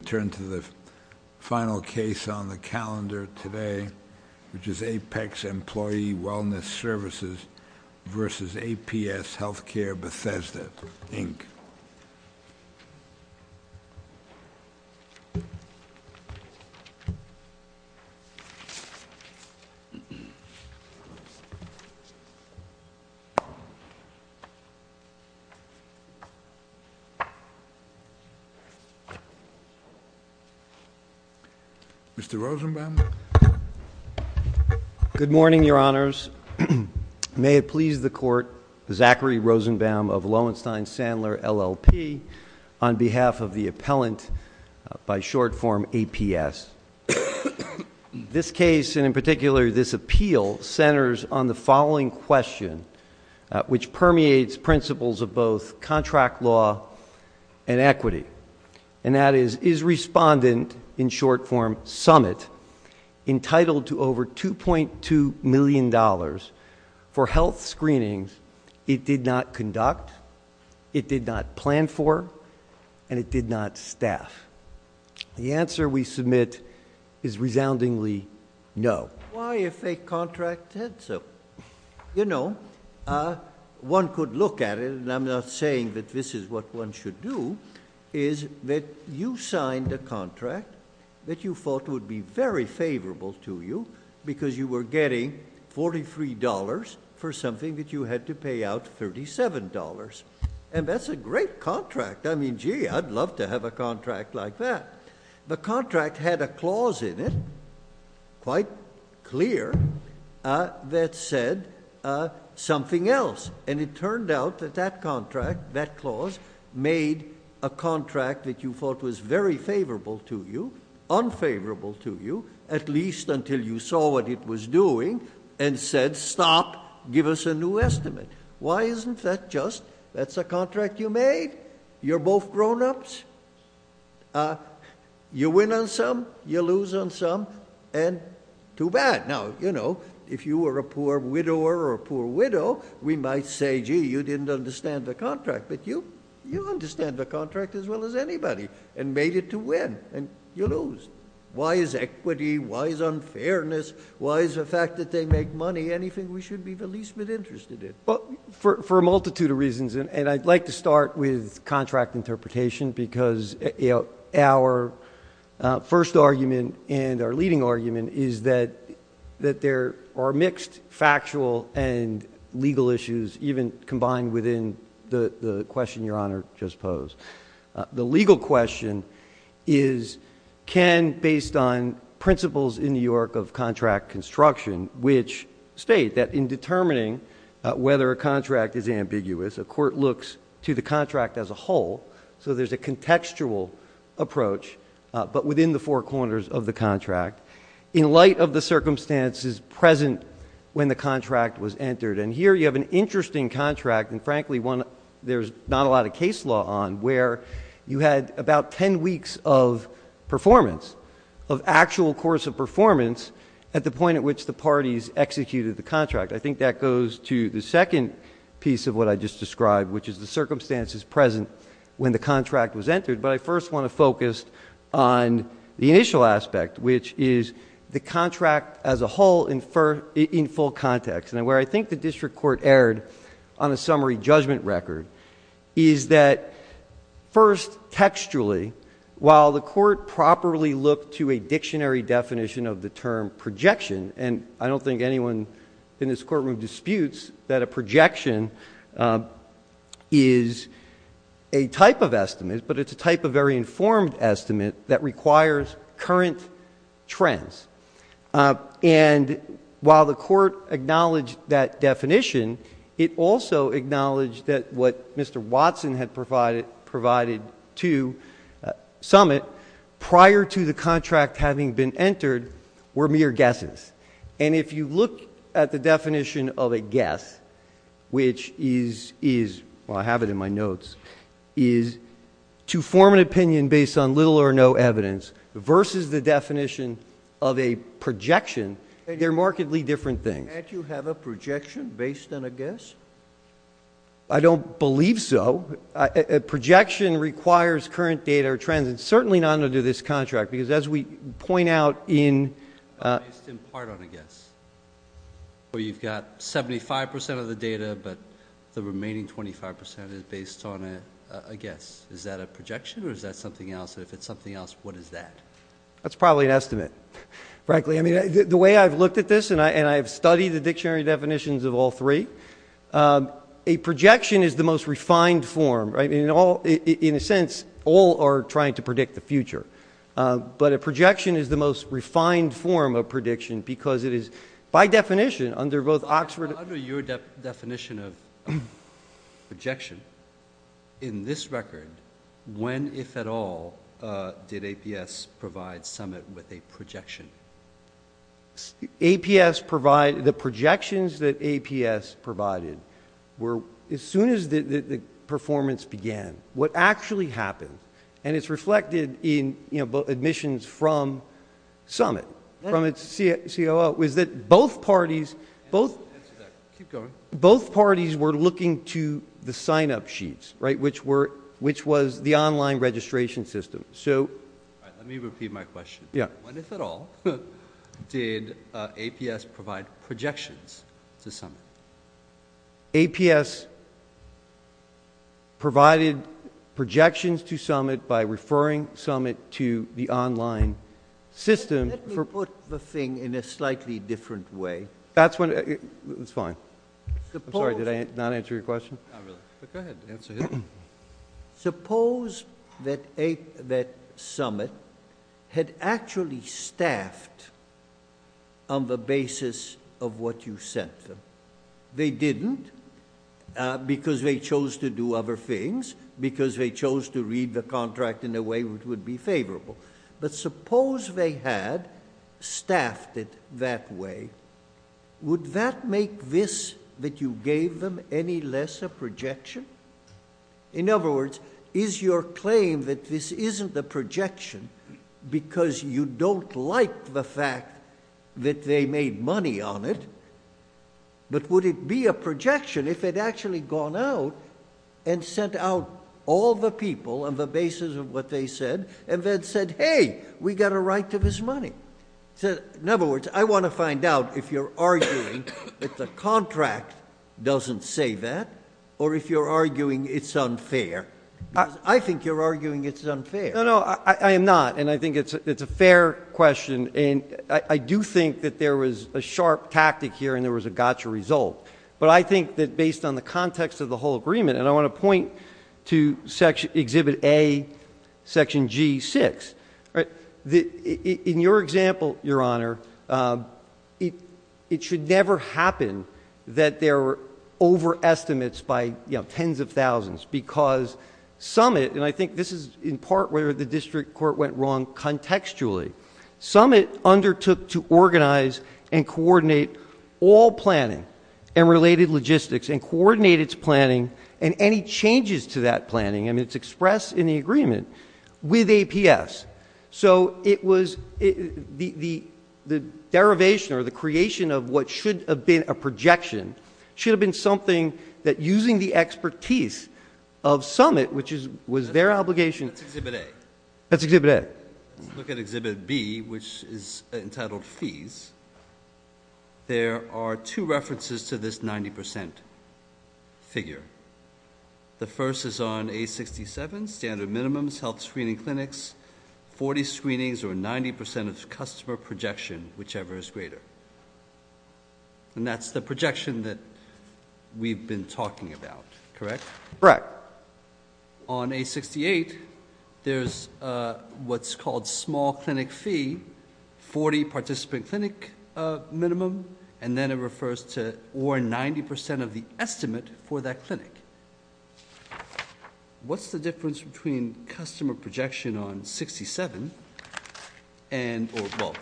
We turn to the final case on the calendar today, which is APEX Employee Wellness Services versus APS Healthcare Bethesda, Inc. Mr. Rosenbaum. Good morning, Your Honors. May it please the Court, Zachary Rosenbaum of Lowenstein Sandler, LLP, on behalf of the appellant by short form APS. This case, and in particular this appeal, centers on the following question, which permeates principles of both contract law and equity. And that is, is respondent, in short form summit, entitled to over $2.2 million for health screenings it did not conduct, it did not plan for, and it did not staff? The answer we submit is resoundingly no. Why a fake contract said so? You know, one could look at it, and I'm not saying that this is what one should do, is that you signed a contract that you thought would be very favorable to you because you were getting $43 for something that you had to pay out $37. And that's a great contract. I mean, gee, I'd love to have a contract like that. The contract had a clause in it, quite clear, that said something else. And it turned out that that contract, that clause, made a contract that you thought was very favorable to you, unfavorable to you, at least until you saw what it was doing and said, stop, give us a new estimate. Why isn't that just, that's a contract you made? You're both grownups? You win on some, you lose on some, and too bad. Now, you know, if you were a poor widower or a poor widow, we might say, gee, you didn't understand the contract, but you understand the contract as well as anybody and made it to win, and you lose. Why is equity, why is unfairness, why is the fact that they make money anything we should be the least bit interested in? Well, for a multitude of reasons, and I'd like to start with contract interpretation, because our first argument and our leading argument is that there are mixed factual and legal issues, even combined within the question Your Honor just posed. The legal question is, can, based on principles in New York of contract construction, which state that in determining whether a contract is ambiguous, a court looks to the contract as a whole, so there's a contextual approach, but within the four corners of the contract. In light of the circumstances present when the contract was entered, and here you have an interesting contract, and frankly one there's not a lot of case law on, where you had about ten weeks of performance, of actual course of performance at the point at which the parties executed the contract. I think that goes to the second piece of what I just described, which is the circumstances present when the contract was entered, but I first want to focus on the initial aspect, which is the contract as a whole in full context, and where I think the district court erred on a summary judgment record, is that first textually, while the court properly looked to a dictionary definition of the term projection, and I don't think anyone in this courtroom disputes that a projection is a type of estimate, but it's a type of very informed estimate that requires current trends. And while the court acknowledged that definition, it also acknowledged that what Mr. Watson had provided to Summit prior to the contract having been entered were mere guesses. And if you look at the definition of a guess, which is, well I have it in my notes, is to form an opinion based on little or no evidence, versus the definition of a projection, they're markedly different things. Can't you have a projection based on a guess? I don't believe so. A projection requires current data or trends, and certainly not under this contract, because as we point out in- Based in part on a guess. So you've got 75% of the data, but the remaining 25% is based on a guess. Is that a projection, or is that something else? If it's something else, what is that? That's probably an estimate, frankly. I mean, the way I've looked at this, and I've studied the dictionary definitions of all three, a projection is the most refined form, right? In a sense, all are trying to predict the future. But a projection is the most refined form of prediction because it is, by definition, under both Oxford- Under your definition of projection, in this record, when, if at all, did APS provide Summit with a projection? The projections that APS provided were as soon as the performance began. What actually happened, and it's reflected in admissions from Summit, from its COO, was that both parties were looking to the sign-up sheets, which was the online registration system. Let me repeat my question. When, if at all, did APS provide projections to Summit? APS provided projections to Summit by referring Summit to the online system- Let me put the thing in a slightly different way. That's fine. I'm sorry, did I not answer your question? Not really, but go ahead and answer it. Suppose that Summit had actually staffed on the basis of what you sent them. They didn't because they chose to do other things, because they chose to read the contract in a way which would be favorable. But suppose they had staffed it that way. Would that make this, that you gave them, any less a projection? In other words, is your claim that this isn't a projection because you don't like the fact that they made money on it? But would it be a projection if it had actually gone out and sent out all the people on the basis of what they said, and then said, hey, we got a right to this money? In other words, I want to find out if you're arguing that the contract doesn't say that, or if you're arguing it's unfair. I think you're arguing it's unfair. No, no, I am not, and I think it's a fair question. And I do think that there was a sharp tactic here and there was a gotcha result. But I think that based on the context of the whole agreement, and I want to point to Exhibit A, Section G6. In your example, Your Honor, it should never happen that there are overestimates by tens of thousands. Because Summit, and I think this is in part where the district court went wrong contextually, Summit undertook to organize and coordinate all planning and related logistics. And coordinate its planning and any changes to that planning, and it's expressed in the agreement with APS. So it was the derivation or the creation of what should have been a projection, should have been something that using the expertise of Summit, which was their obligation. That's Exhibit A. That's Exhibit A. Let's look at Exhibit B, which is entitled Fees. There are two references to this 90% figure. The first is on A67, standard minimums, health screening clinics, 40 screenings or 90% of customer projection, whichever is greater. And that's the projection that we've been talking about, correct? Correct. On A68, there's what's called small clinic fee, 40 participant clinic minimum, and then it refers to or 90% of the estimate for that clinic. What's the difference between customer projection on 67 and, well,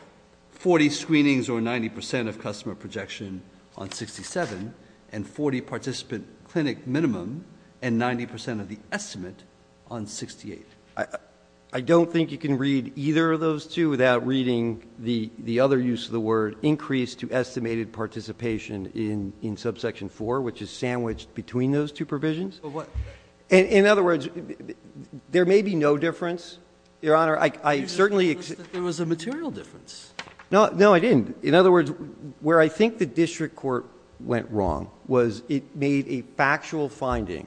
40 screenings or 90% of customer projection on 67, and 40 participant clinic minimum and 90% of the estimate on 68? I don't think you can read either of those two without reading the other use of the word increase to estimated participation in subsection 4, which is sandwiched between those two provisions. In other words, there may be no difference, Your Honor. I certainly... There was a material difference. No, I didn't. In other words, where I think the district court went wrong was it made a factual finding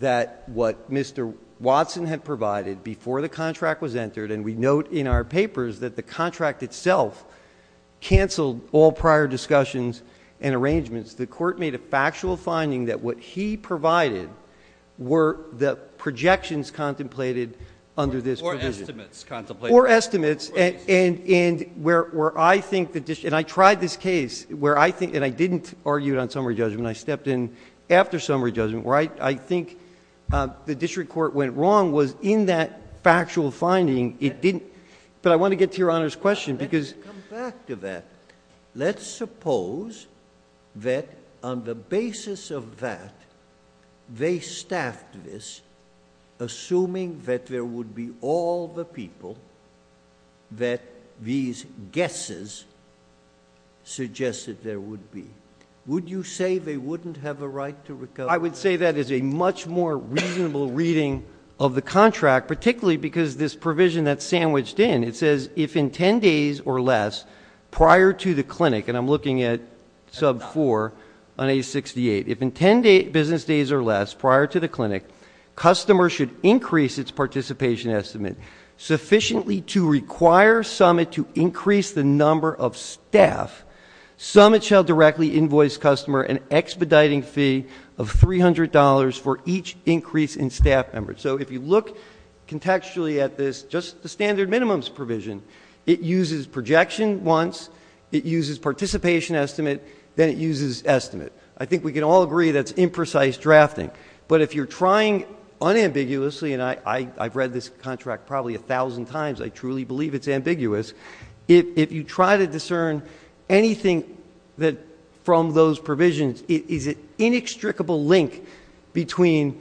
that what Mr. Watson had provided before the contract was entered, and we note in our papers that the contract itself canceled all prior discussions and arrangements. The court made a factual finding that what he provided were the projections contemplated under this provision. Or estimates contemplated. Or estimates, and where I think the district... And I tried this case where I think... And I didn't argue it on summary judgment. I stepped in after summary judgment. Where I think the district court went wrong was in that factual finding it didn't... But I want to get to Your Honor's question because... Let me come back to that. Let's suppose that on the basis of that, they staffed this assuming that there would be all the people that these guesses suggested there would be. Would you say they wouldn't have a right to recover? I would say that is a much more reasonable reading of the contract, particularly because this provision that's sandwiched in, it says if in 10 days or less prior to the clinic, and I'm looking at sub 4 on A68, if in 10 business days or less prior to the clinic, customers should increase its participation estimate sufficiently to require Summit to increase the number of staff, Summit shall directly invoice customer an expediting fee of $300 for each increase in staff members. So if you look contextually at this, just the standard minimums provision, it uses projection once. It uses participation estimate. Then it uses estimate. I think we can all agree that's imprecise drafting. But if you're trying unambiguously, and I've read this contract probably a thousand times, I truly believe it's ambiguous. If you try to discern anything from those provisions, is it inextricable link between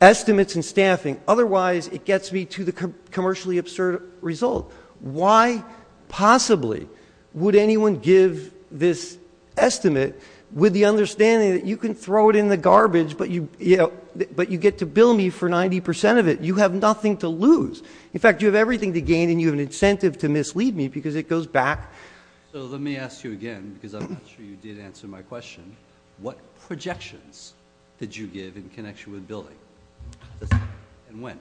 estimates and staffing? Otherwise, it gets me to the commercially absurd result. Why possibly would anyone give this estimate with the understanding that you can throw it in the garbage, but you get to bill me for 90% of it? You have nothing to lose. In fact, you have everything to gain, and you have an incentive to mislead me because it goes back. So let me ask you again, because I'm not sure you did answer my question. What projections did you give in connection with billing? And when?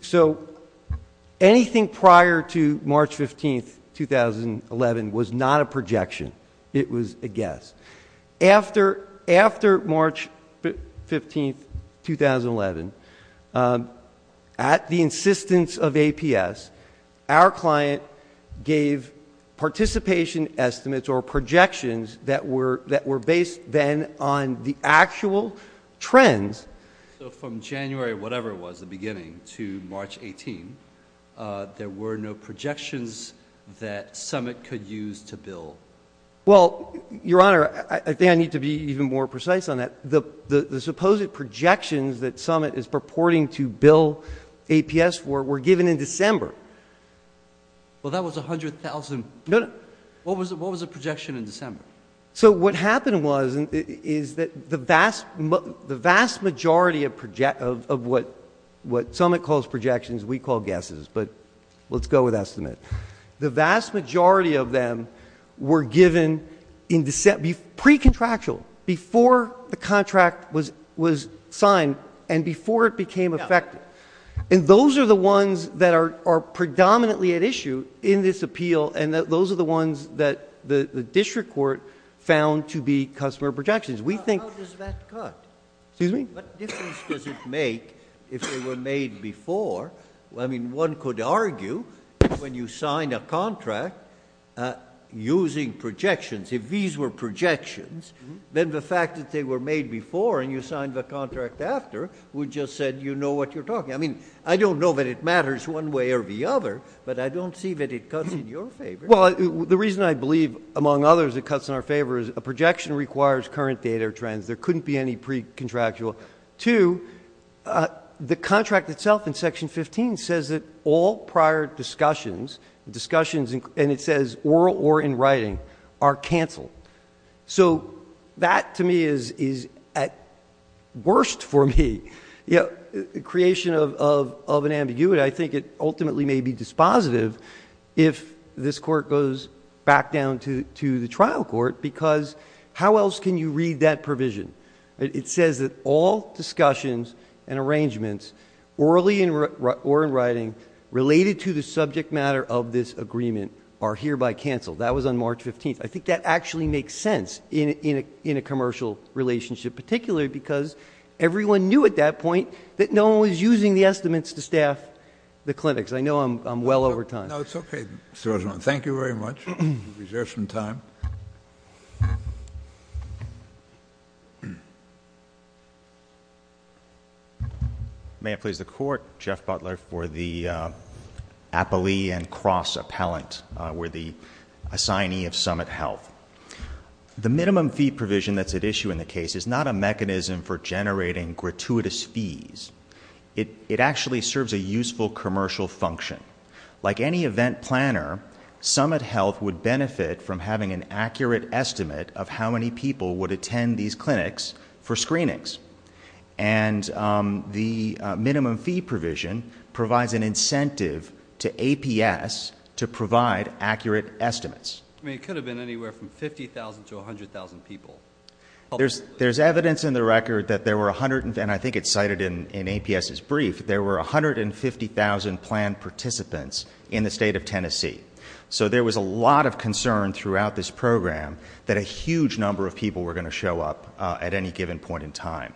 So anything prior to March 15, 2011, was not a projection. It was a guess. After March 15, 2011, at the insistence of APS, our client gave participation estimates or projections that were based then on the actual trends. So from January whatever it was, the beginning, to March 18, there were no projections that Summit could use to bill? Well, Your Honor, I think I need to be even more precise on that. The supposed projections that Summit is purporting to bill APS for were given in December. Well, that was 100,000. No, no. What was the projection in December? So what happened was is that the vast majority of what Summit calls projections we call guesses, but let's go with estimate. The vast majority of them were given pre-contractual, before the contract was signed and before it became effective. And those are the ones that are predominantly at issue in this appeal, and those are the ones that the district court found to be customer projections. How does that cut? Excuse me? What difference does it make if they were made before? I mean, one could argue when you sign a contract using projections, if these were projections, then the fact that they were made before and you signed the contract after would just say you know what you're talking about. I mean, I don't know that it matters one way or the other, but I don't see that it cuts in your favor. Well, the reason I believe, among others, it cuts in our favor is a projection requires current data trends. There couldn't be any pre-contractual. Two, the contract itself in Section 15 says that all prior discussions, discussions, and it says oral or in writing, are canceled. So that to me is at worst for me. The creation of an ambiguity, I think it ultimately may be dispositive if this court goes back down to the trial court, because how else can you read that provision? It says that all discussions and arrangements orally or in writing related to the subject matter of this agreement are hereby canceled. That was on March 15th. I think that actually makes sense in a commercial relationship, particularly because everyone knew at that point that no one was using the estimates to staff the clinics. I know I'm well over time. No, it's okay, Mr. Rosenbaum. Thank you very much. We reserve some time. May I please the court? Jeff Butler for the Apolli and Cross Appellant. We're the assignee of Summit Health. The minimum fee provision that's at issue in the case is not a mechanism for generating gratuitous fees. It actually serves a useful commercial function. Like any event planner, Summit Health would benefit from having an accurate estimate of how many people would attend these clinics for screenings. And the minimum fee provision provides an incentive to APS to provide accurate estimates. I mean, it could have been anywhere from 50,000 to 100,000 people. There's evidence in the record that there were 100,000, and I think it's cited in APS's brief, there were 150,000 planned participants in the state of Tennessee. So there was a lot of concern throughout this program that a huge number of people were going to show up at any given point in time.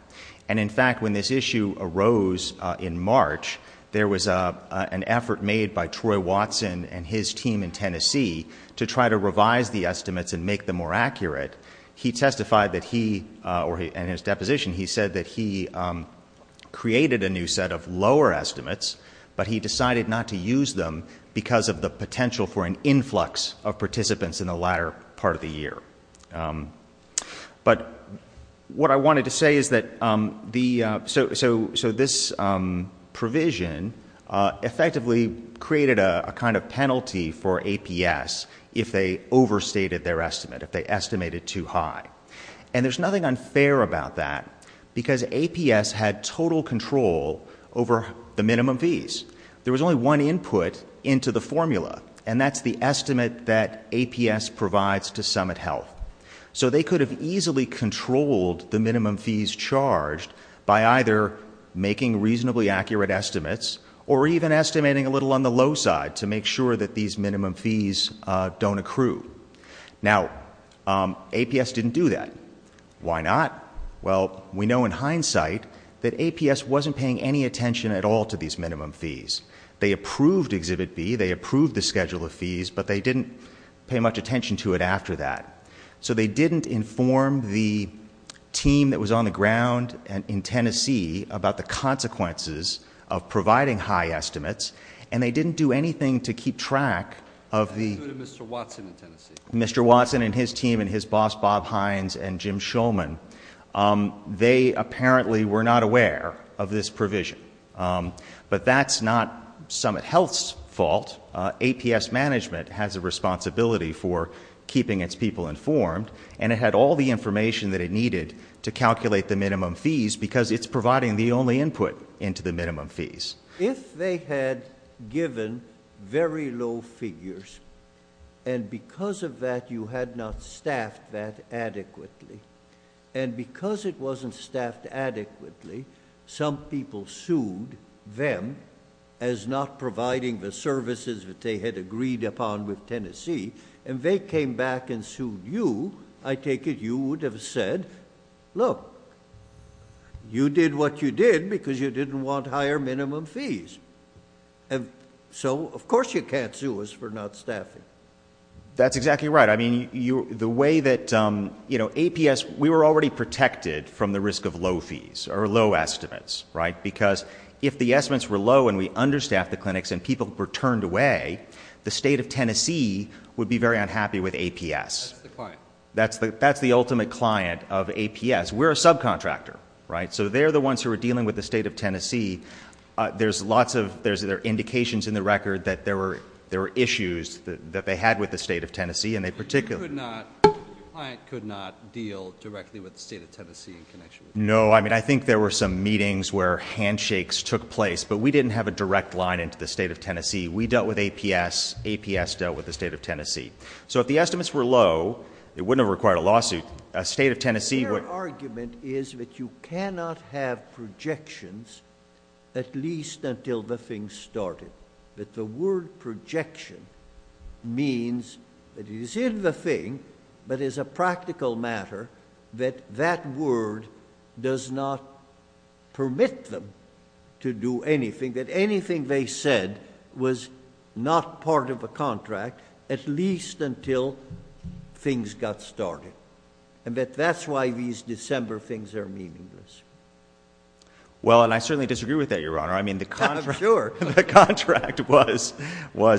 And, in fact, when this issue arose in March, there was an effort made by Troy Watson and his team in Tennessee to try to revise the estimates and make them more accurate. He testified that he, or in his deposition, he said that he created a new set of lower estimates, but he decided not to use them because of the potential for an influx of participants in the latter part of the year. But what I wanted to say is that the, so this provision effectively created a kind of penalty for APS if they overstated their estimate, if they estimated too high. And there's nothing unfair about that because APS had total control over the minimum fees. There was only one input into the formula, and that's the estimate that APS provides to Summit Health. So they could have easily controlled the minimum fees charged by either making reasonably accurate estimates or even estimating a little on the low side to make sure that these minimum fees don't accrue. Now, APS didn't do that. Why not? Well, we know in hindsight that APS wasn't paying any attention at all to these minimum fees. They approved Exhibit B. They approved the schedule of fees, but they didn't pay much attention to it after that. So they didn't inform the team that was on the ground in Tennessee about the consequences of providing high estimates, and they didn't do anything to keep track of the- Let's go to Mr. Watson in Tennessee. Mr. Watson and his team and his boss, Bob Hines and Jim Shulman, they apparently were not aware of this provision. But that's not Summit Health's fault. APS management has a responsibility for keeping its people informed, and it had all the information that it needed to calculate the minimum fees because it's providing the only input into the minimum fees. If they had given very low figures and because of that you had not staffed that adequately, and because it wasn't staffed adequately, some people sued them as not providing the services that they had agreed upon with Tennessee, and they came back and sued you, I take it you would have said, Look, you did what you did because you didn't want higher minimum fees, so of course you can't sue us for not staffing. That's exactly right. I mean, the way that, you know, APS, we were already protected from the risk of low fees or low estimates, right, because if the estimates were low and we understaffed the clinics and people were turned away, the state of Tennessee would be very unhappy with APS. That's the client. That's the client of APS. We're a subcontractor, right, so they're the ones who are dealing with the state of Tennessee. There's lots of indications in the record that there were issues that they had with the state of Tennessee, and they particularly- Your client could not deal directly with the state of Tennessee in connection with APS. No, I mean, I think there were some meetings where handshakes took place, but we didn't have a direct line into the state of Tennessee. We dealt with APS. APS dealt with the state of Tennessee. So if the estimates were low, it wouldn't have required a lawsuit. A state of Tennessee would- Their argument is that you cannot have projections at least until the thing started, that the word projection means that it is in the thing, but as a practical matter, that that word does not permit them to do anything, that anything they said was not part of a contract at least until things got started, and that that's why these December things are meaningless. Well, and I certainly disagree with that, Your Honor. I'm sure. I mean, the contract was,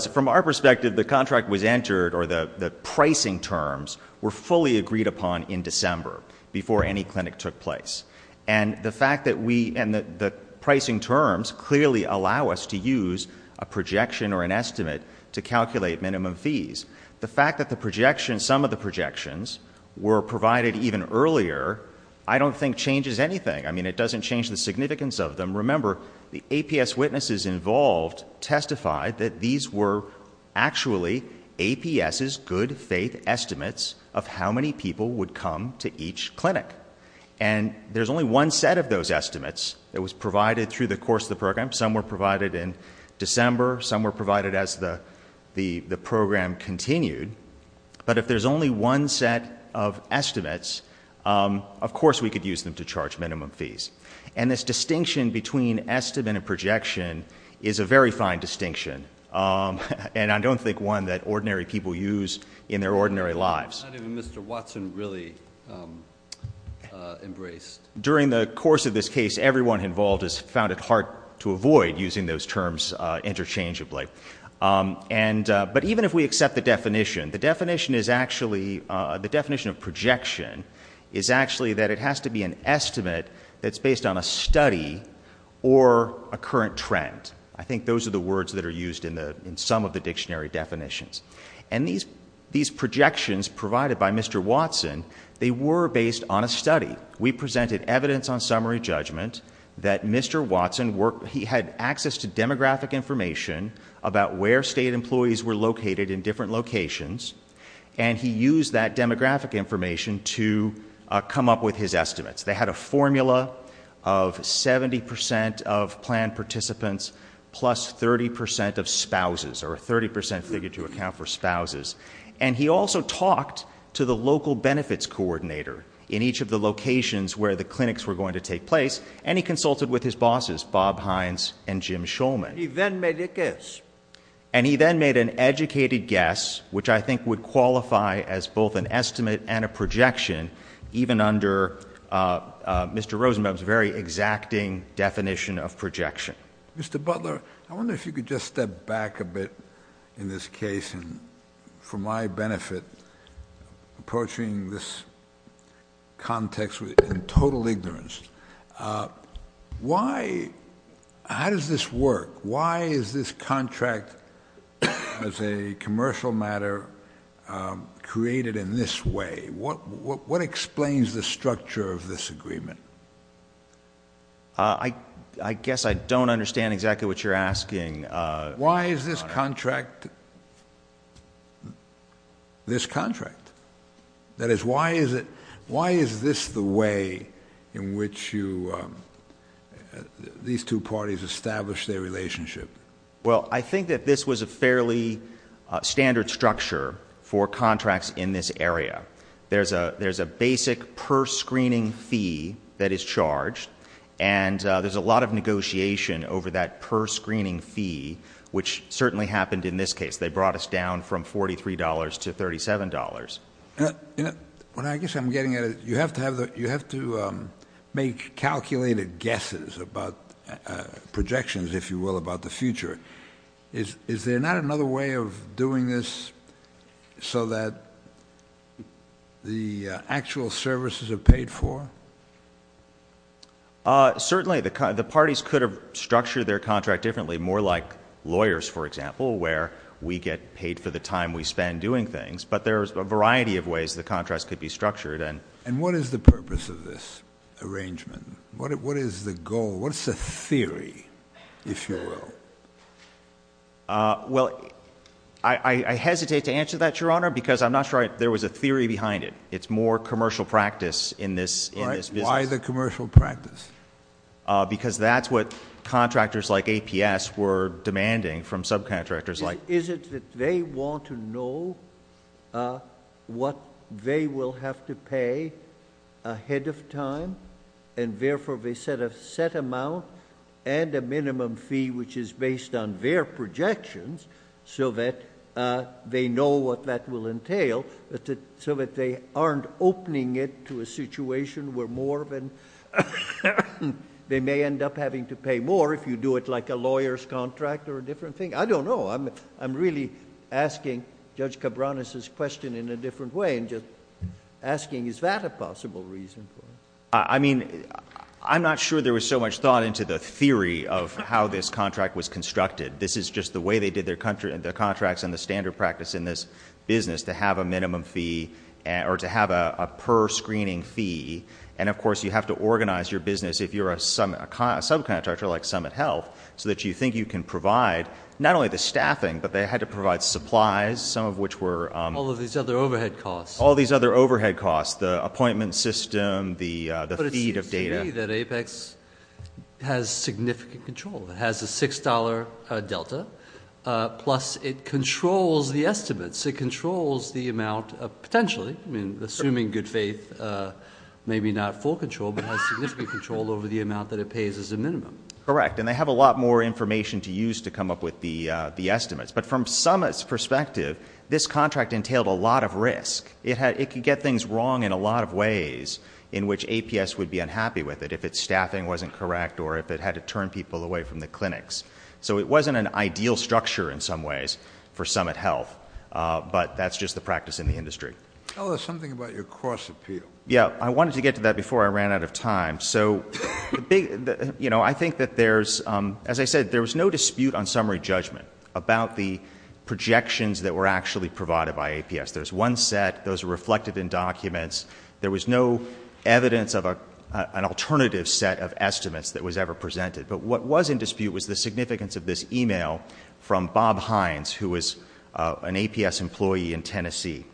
from our perspective, the contract was entered, or the pricing terms were fully agreed upon in December before any clinic took place, and the fact that we, and the pricing terms clearly allow us to use a projection or an estimate to calculate minimum fees. The fact that the projection, some of the projections were provided even earlier, I don't think changes anything. I mean, it doesn't change the significance of them. Remember, the APS witnesses involved testified that these were actually APS's good faith estimates of how many people would come to each clinic, and there's only one set of those estimates that was provided through the course of the program. Some were provided in December. Some were provided as the program continued, but if there's only one set of estimates, of course we could use them to charge minimum fees, and this distinction between estimate and projection is a very fine distinction, and I don't think one that ordinary people use in their ordinary lives. Not even Mr. Watson really embraced. During the course of this case, everyone involved has found it hard to avoid using those terms interchangeably, but even if we accept the definition, the definition of projection is actually that it has to be an estimate that's based on a study or a current trend. I think those are the words that are used in some of the dictionary definitions, and these projections provided by Mr. Watson, they were based on a study. We presented evidence on summary judgment that Mr. Watson had access to demographic information about where state employees were located in different locations, and he used that demographic information to come up with his estimates. They had a formula of 70% of planned participants plus 30% of spouses, or a 30% figure to account for spouses, and he also talked to the local benefits coordinator in each of the locations where the clinics were going to take place, and he consulted with his bosses, Bob Hines and Jim Shulman. He then made a guess. And he then made an educated guess, which I think would qualify as both an estimate and a projection, even under Mr. Rosenbaum's very exacting definition of projection. Mr. Butler, I wonder if you could just step back a bit in this case, and for my benefit approaching this context in total ignorance. How does this work? Why is this contract as a commercial matter created in this way? What explains the structure of this agreement? I guess I don't understand exactly what you're asking. Why is this contract this contract? That is, why is this the way in which these two parties establish their relationship? Well, I think that this was a fairly standard structure for contracts in this area. There's a basic per-screening fee that is charged, and there's a lot of negotiation over that per-screening fee, which certainly happened in this case. They brought us down from $43 to $37. Well, I guess I'm getting at it. You have to make calculated guesses about projections, if you will, about the future. Is there not another way of doing this so that the actual services are paid for? Certainly. The parties could have structured their contract differently, more like lawyers, for example, where we get paid for the time we spend doing things. But there's a variety of ways the contracts could be structured. And what is the purpose of this arrangement? What is the goal? What's the theory, if you will? Well, I hesitate to answer that, Your Honor, because I'm not sure there was a theory behind it. It's more commercial practice in this business. Why the commercial practice? Because that's what contractors like APS were demanding from subcontractors like APS. Is it that they want to know what they will have to pay ahead of time, and therefore they set a set amount and a minimum fee which is based on their projections so that they know what that will entail, so that they aren't opening it to a situation where they may end up having to pay more if you do it like a lawyer's contract or a different thing? I don't know. I'm really asking Judge Cabranes' question in a different way and just asking, is that a possible reason for it? I mean, I'm not sure there was so much thought into the theory of how this contract was constructed. This is just the way they did their contracts in the standard practice in this business, to have a minimum fee or to have a per-screening fee. And, of course, you have to organize your business if you're a subcontractor like Summit Health so that you think you can provide not only the staffing, but they had to provide supplies, some of which were ____. All of these other overhead costs. All these other overhead costs, the appointment system, the feed of data. But it seems to me that APEX has significant control. It has a $6 delta, plus it controls the estimates. It controls the amount of potentially, I mean, assuming good faith, maybe not full control, but has significant control over the amount that it pays as a minimum. Correct. And they have a lot more information to use to come up with the estimates. But from Summit's perspective, this contract entailed a lot of risk. It could get things wrong in a lot of ways in which APS would be unhappy with it if its staffing wasn't correct or if it had to turn people away from the clinics. So it wasn't an ideal structure in some ways for Summit Health. But that's just the practice in the industry. Tell us something about your cost appeal. Yeah. I wanted to get to that before I ran out of time. So, you know, I think that there's, as I said, there was no dispute on summary judgment about the projections that were actually provided by APS. There's one set. Those are reflected in documents. There was no evidence of an alternative set of estimates that was ever presented. But what was in dispute was the significance of this email from Bob Hines, who was an APS employee in Tennessee.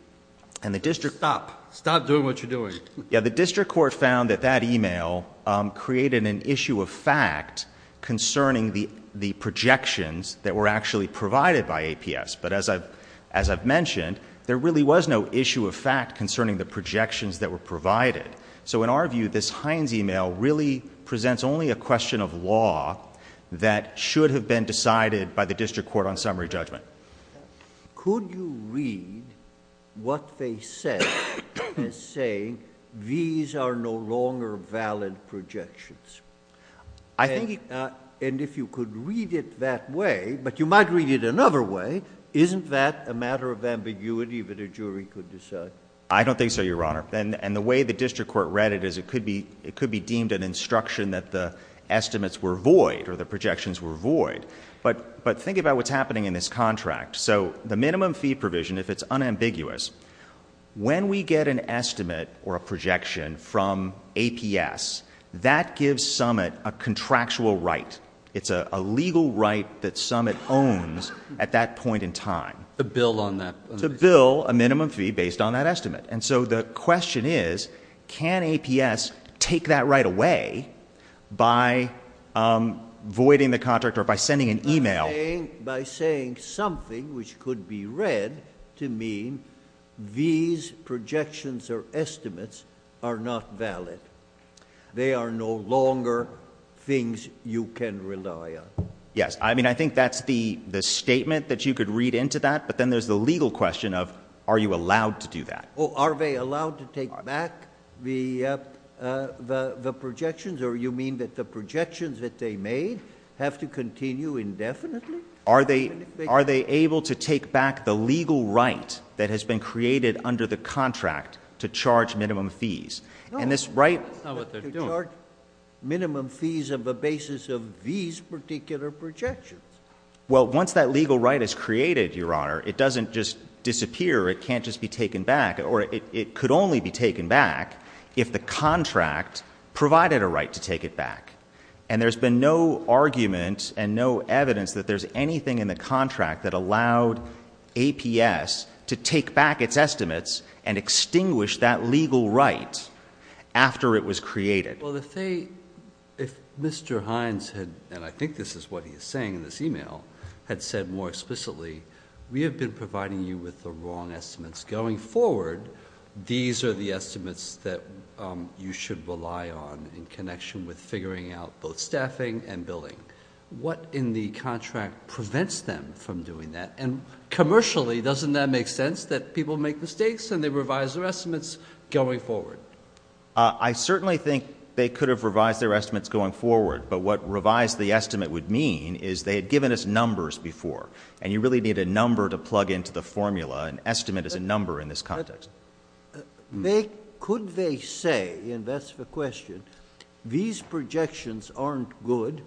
And the district... Stop. Stop doing what you're doing. Yeah. The district court found that that email created an issue of fact concerning the projections that were actually provided by APS. But as I've mentioned, there really was no issue of fact concerning the projections that were provided. So in our view, this Hines email really presents only a question of law that should have been decided by the district court on summary judgment. Could you read what they said as saying, these are no longer valid projections? I think... Isn't that a matter of ambiguity that a jury could decide? I don't think so, Your Honor. And the way the district court read it is it could be deemed an instruction that the estimates were void or the projections were void. But think about what's happening in this contract. So the minimum fee provision, if it's unambiguous, when we get an estimate or a projection from APS, that gives Summit a contractual right. It's a legal right that Summit owns at that point in time. To bill on that. To bill a minimum fee based on that estimate. And so the question is, can APS take that right away by voiding the contract or by sending an email? By saying something which could be read to mean these projections or estimates are not valid. They are no longer things you can rely on. Yes. I mean, I think that's the statement that you could read into that. But then there's the legal question of, are you allowed to do that? Are they allowed to take back the projections? Or you mean that the projections that they made have to continue indefinitely? Are they able to take back the legal right that has been created under the contract to charge minimum fees? No. To charge minimum fees on the basis of these particular projections. Well, once that legal right is created, Your Honor, it doesn't just disappear. It can't just be taken back. Or it could only be taken back if the contract provided a right to take it back. And there's been no argument and no evidence that there's anything in the contract that allowed APS to take back its estimates and extinguish that legal right after it was created. Well, if they, if Mr. Hines had, and I think this is what he's saying in this email, had said more explicitly, we have been providing you with the wrong estimates going forward. These are the estimates that you should rely on in connection with figuring out both staffing and billing. What in the contract prevents them from doing that? And commercially, doesn't that make sense, that people make mistakes and they revise their estimates going forward? I certainly think they could have revised their estimates going forward. But what revise the estimate would mean is they had given us numbers before. And you really need a number to plug into the formula. An estimate is a number in this context. Could they say, and that's the question, these projections aren't good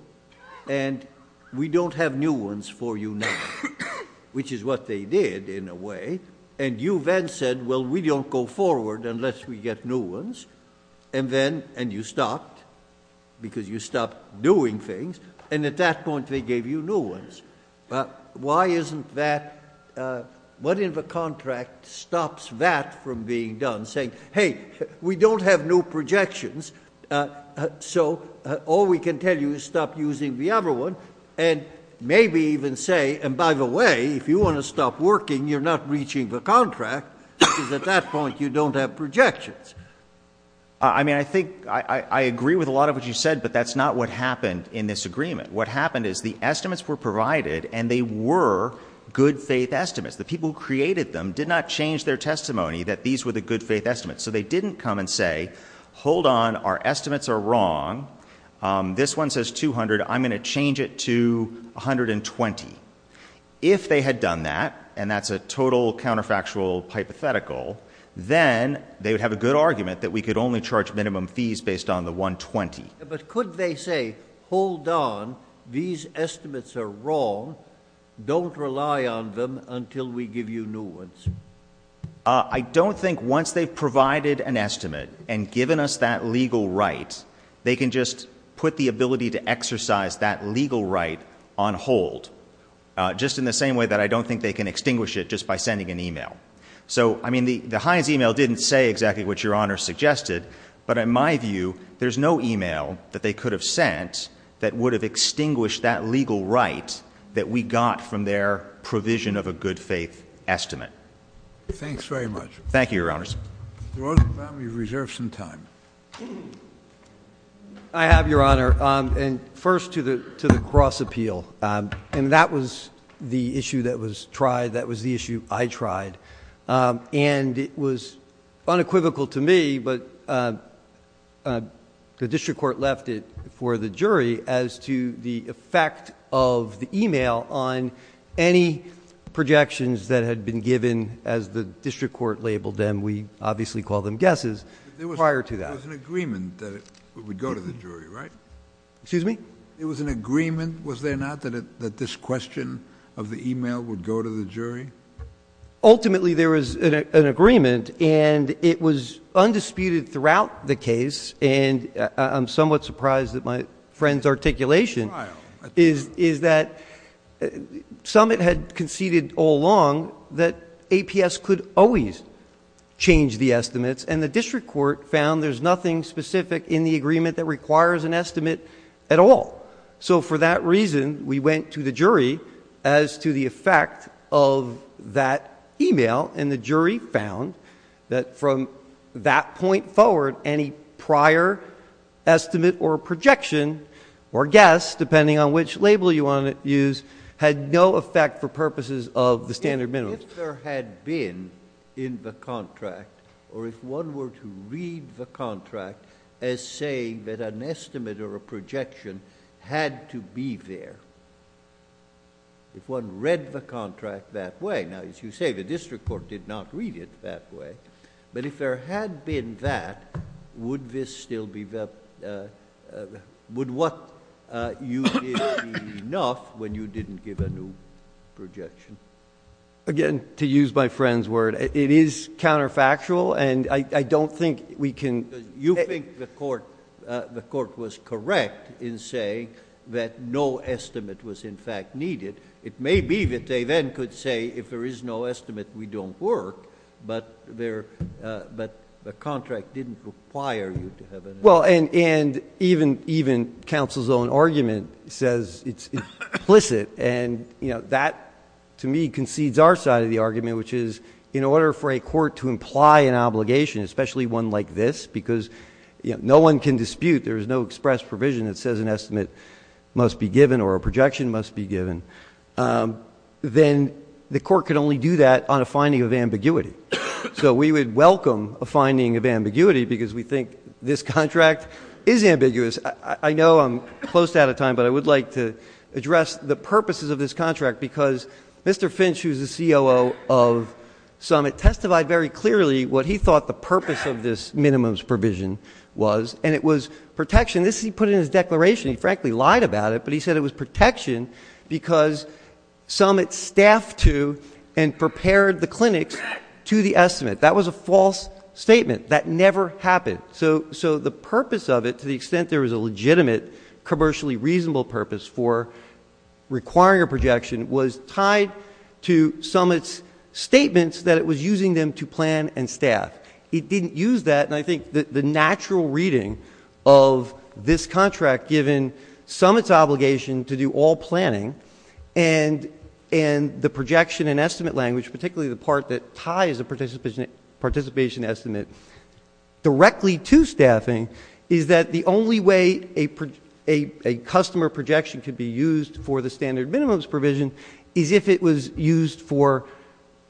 and we don't have new ones for you now, which is what they did in a way, and you then said, well, we don't go forward unless we get new ones. And then, and you stopped because you stopped doing things. And at that point, they gave you new ones. Why isn't that, what in the contract stops that from being done? Saying, hey, we don't have new projections, so all we can tell you is stop using the other one. And maybe even say, and by the way, if you want to stop working, you're not reaching the contract, because at that point you don't have projections. I mean, I think, I agree with a lot of what you said, but that's not what happened in this agreement. What happened is the estimates were provided and they were good faith estimates. The people who created them did not change their testimony that these were the good faith estimates. So they didn't come and say, hold on, our estimates are wrong. This one says 200. I'm going to change it to 120. If they had done that, and that's a total counterfactual hypothetical, then they would have a good argument that we could only charge minimum fees based on the 120. But could they say, hold on, these estimates are wrong. Don't rely on them until we give you new ones. I don't think once they've provided an estimate and given us that legal right, they can just put the ability to exercise that legal right on hold, just in the same way that I don't think they can extinguish it just by sending an e-mail. So, I mean, the Heinz e-mail didn't say exactly what Your Honor suggested, but in my view there's no e-mail that they could have sent that would have extinguished that legal right that we got from their provision of a good faith estimate. Thanks very much. Thank you, Your Honors. Mr. Rosenblatt, we've reserved some time. I have, Your Honor, and first to the cross appeal. And that was the issue that was tried. That was the issue I tried. And it was unequivocal to me, but the district court left it for the jury, as to the effect of the e-mail on any projections that had been given, as the district court labeled them. We obviously called them guesses prior to that. There was an agreement that it would go to the jury, right? Excuse me? There was an agreement, was there not, that this question of the e-mail would go to the jury? Ultimately there was an agreement, and it was undisputed throughout the case, and I'm somewhat surprised at my friend's articulation, is that Summit had conceded all along that APS could always change the estimates, and the district court found there's nothing specific in the agreement that requires an estimate at all. So for that reason, we went to the jury as to the effect of that e-mail, and the jury found that from that point forward, any prior estimate or projection or guess, depending on which label you want to use, had no effect for purposes of the standard minimum. If there had been in the contract, or if one were to read the contract as saying that an estimate or a projection had to be there, if one read the contract that way, now as you say, the district court did not read it that way, but if there had been that, would what you did be enough when you didn't give a new projection? Again, to use my friend's word, it is counterfactual, and I don't think we can... Because you think the court was correct in saying that no estimate was, in fact, needed. It may be that they then could say if there is no estimate, we don't work, but the contract didn't require you to have an estimate. Well, and even counsel's own argument says it's implicit, and that to me concedes our side of the argument, which is in order for a court to imply an obligation, especially one like this, because no one can dispute, there is no express provision that says an estimate must be given or a projection must be given, then the court can only do that on a finding of ambiguity. So we would welcome a finding of ambiguity because we think this contract is ambiguous. I know I'm close to out of time, but I would like to address the purposes of this contract because Mr. Finch, who is the COO of Summit, testified very clearly what he thought the purpose of this minimums provision was, and it was protection. This he put in his declaration. He frankly lied about it, but he said it was protection because Summit staffed to and prepared the clinics to the estimate. That was a false statement. That never happened. So the purpose of it, to the extent there was a legitimate commercially reasonable purpose for requiring a projection, was tied to Summit's statements that it was using them to plan and staff. It didn't use that, and I think the natural reading of this contract, given Summit's obligation to do all planning and the projection and estimate language, particularly the part that ties a participation estimate directly to staffing, is that the only way a customer projection could be used for the standard minimums provision is if it was used for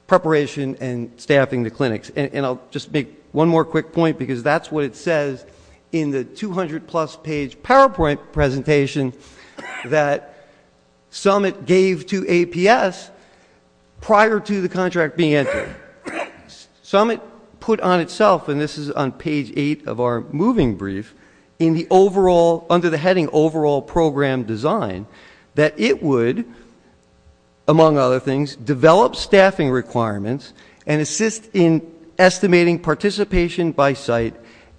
preparation and staffing the clinics. And I'll just make one more quick point because that's what it says in the 200-plus page PowerPoint presentation that Summit gave to APS prior to the contract being entered. Summit put on itself, and this is on page 8 of our moving brief, in the overall, under the heading overall program design, that it would, among other things, develop staffing requirements and assist in estimating participation by site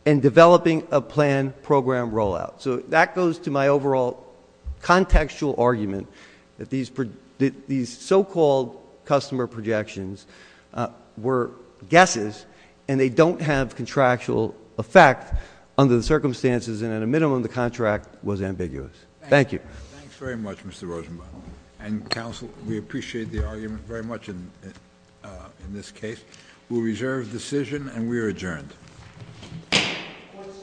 and developing a planned program rollout. So that goes to my overall contextual argument that these so-called customer projections were guesses and they don't have contractual effect under the circumstances, and at a minimum, the contract was ambiguous. Thank you. Thanks very much, Mr. Rosenbaum. And, counsel, we appreciate the argument very much in this case. We'll reserve the decision, and we are adjourned. Court is adjourned.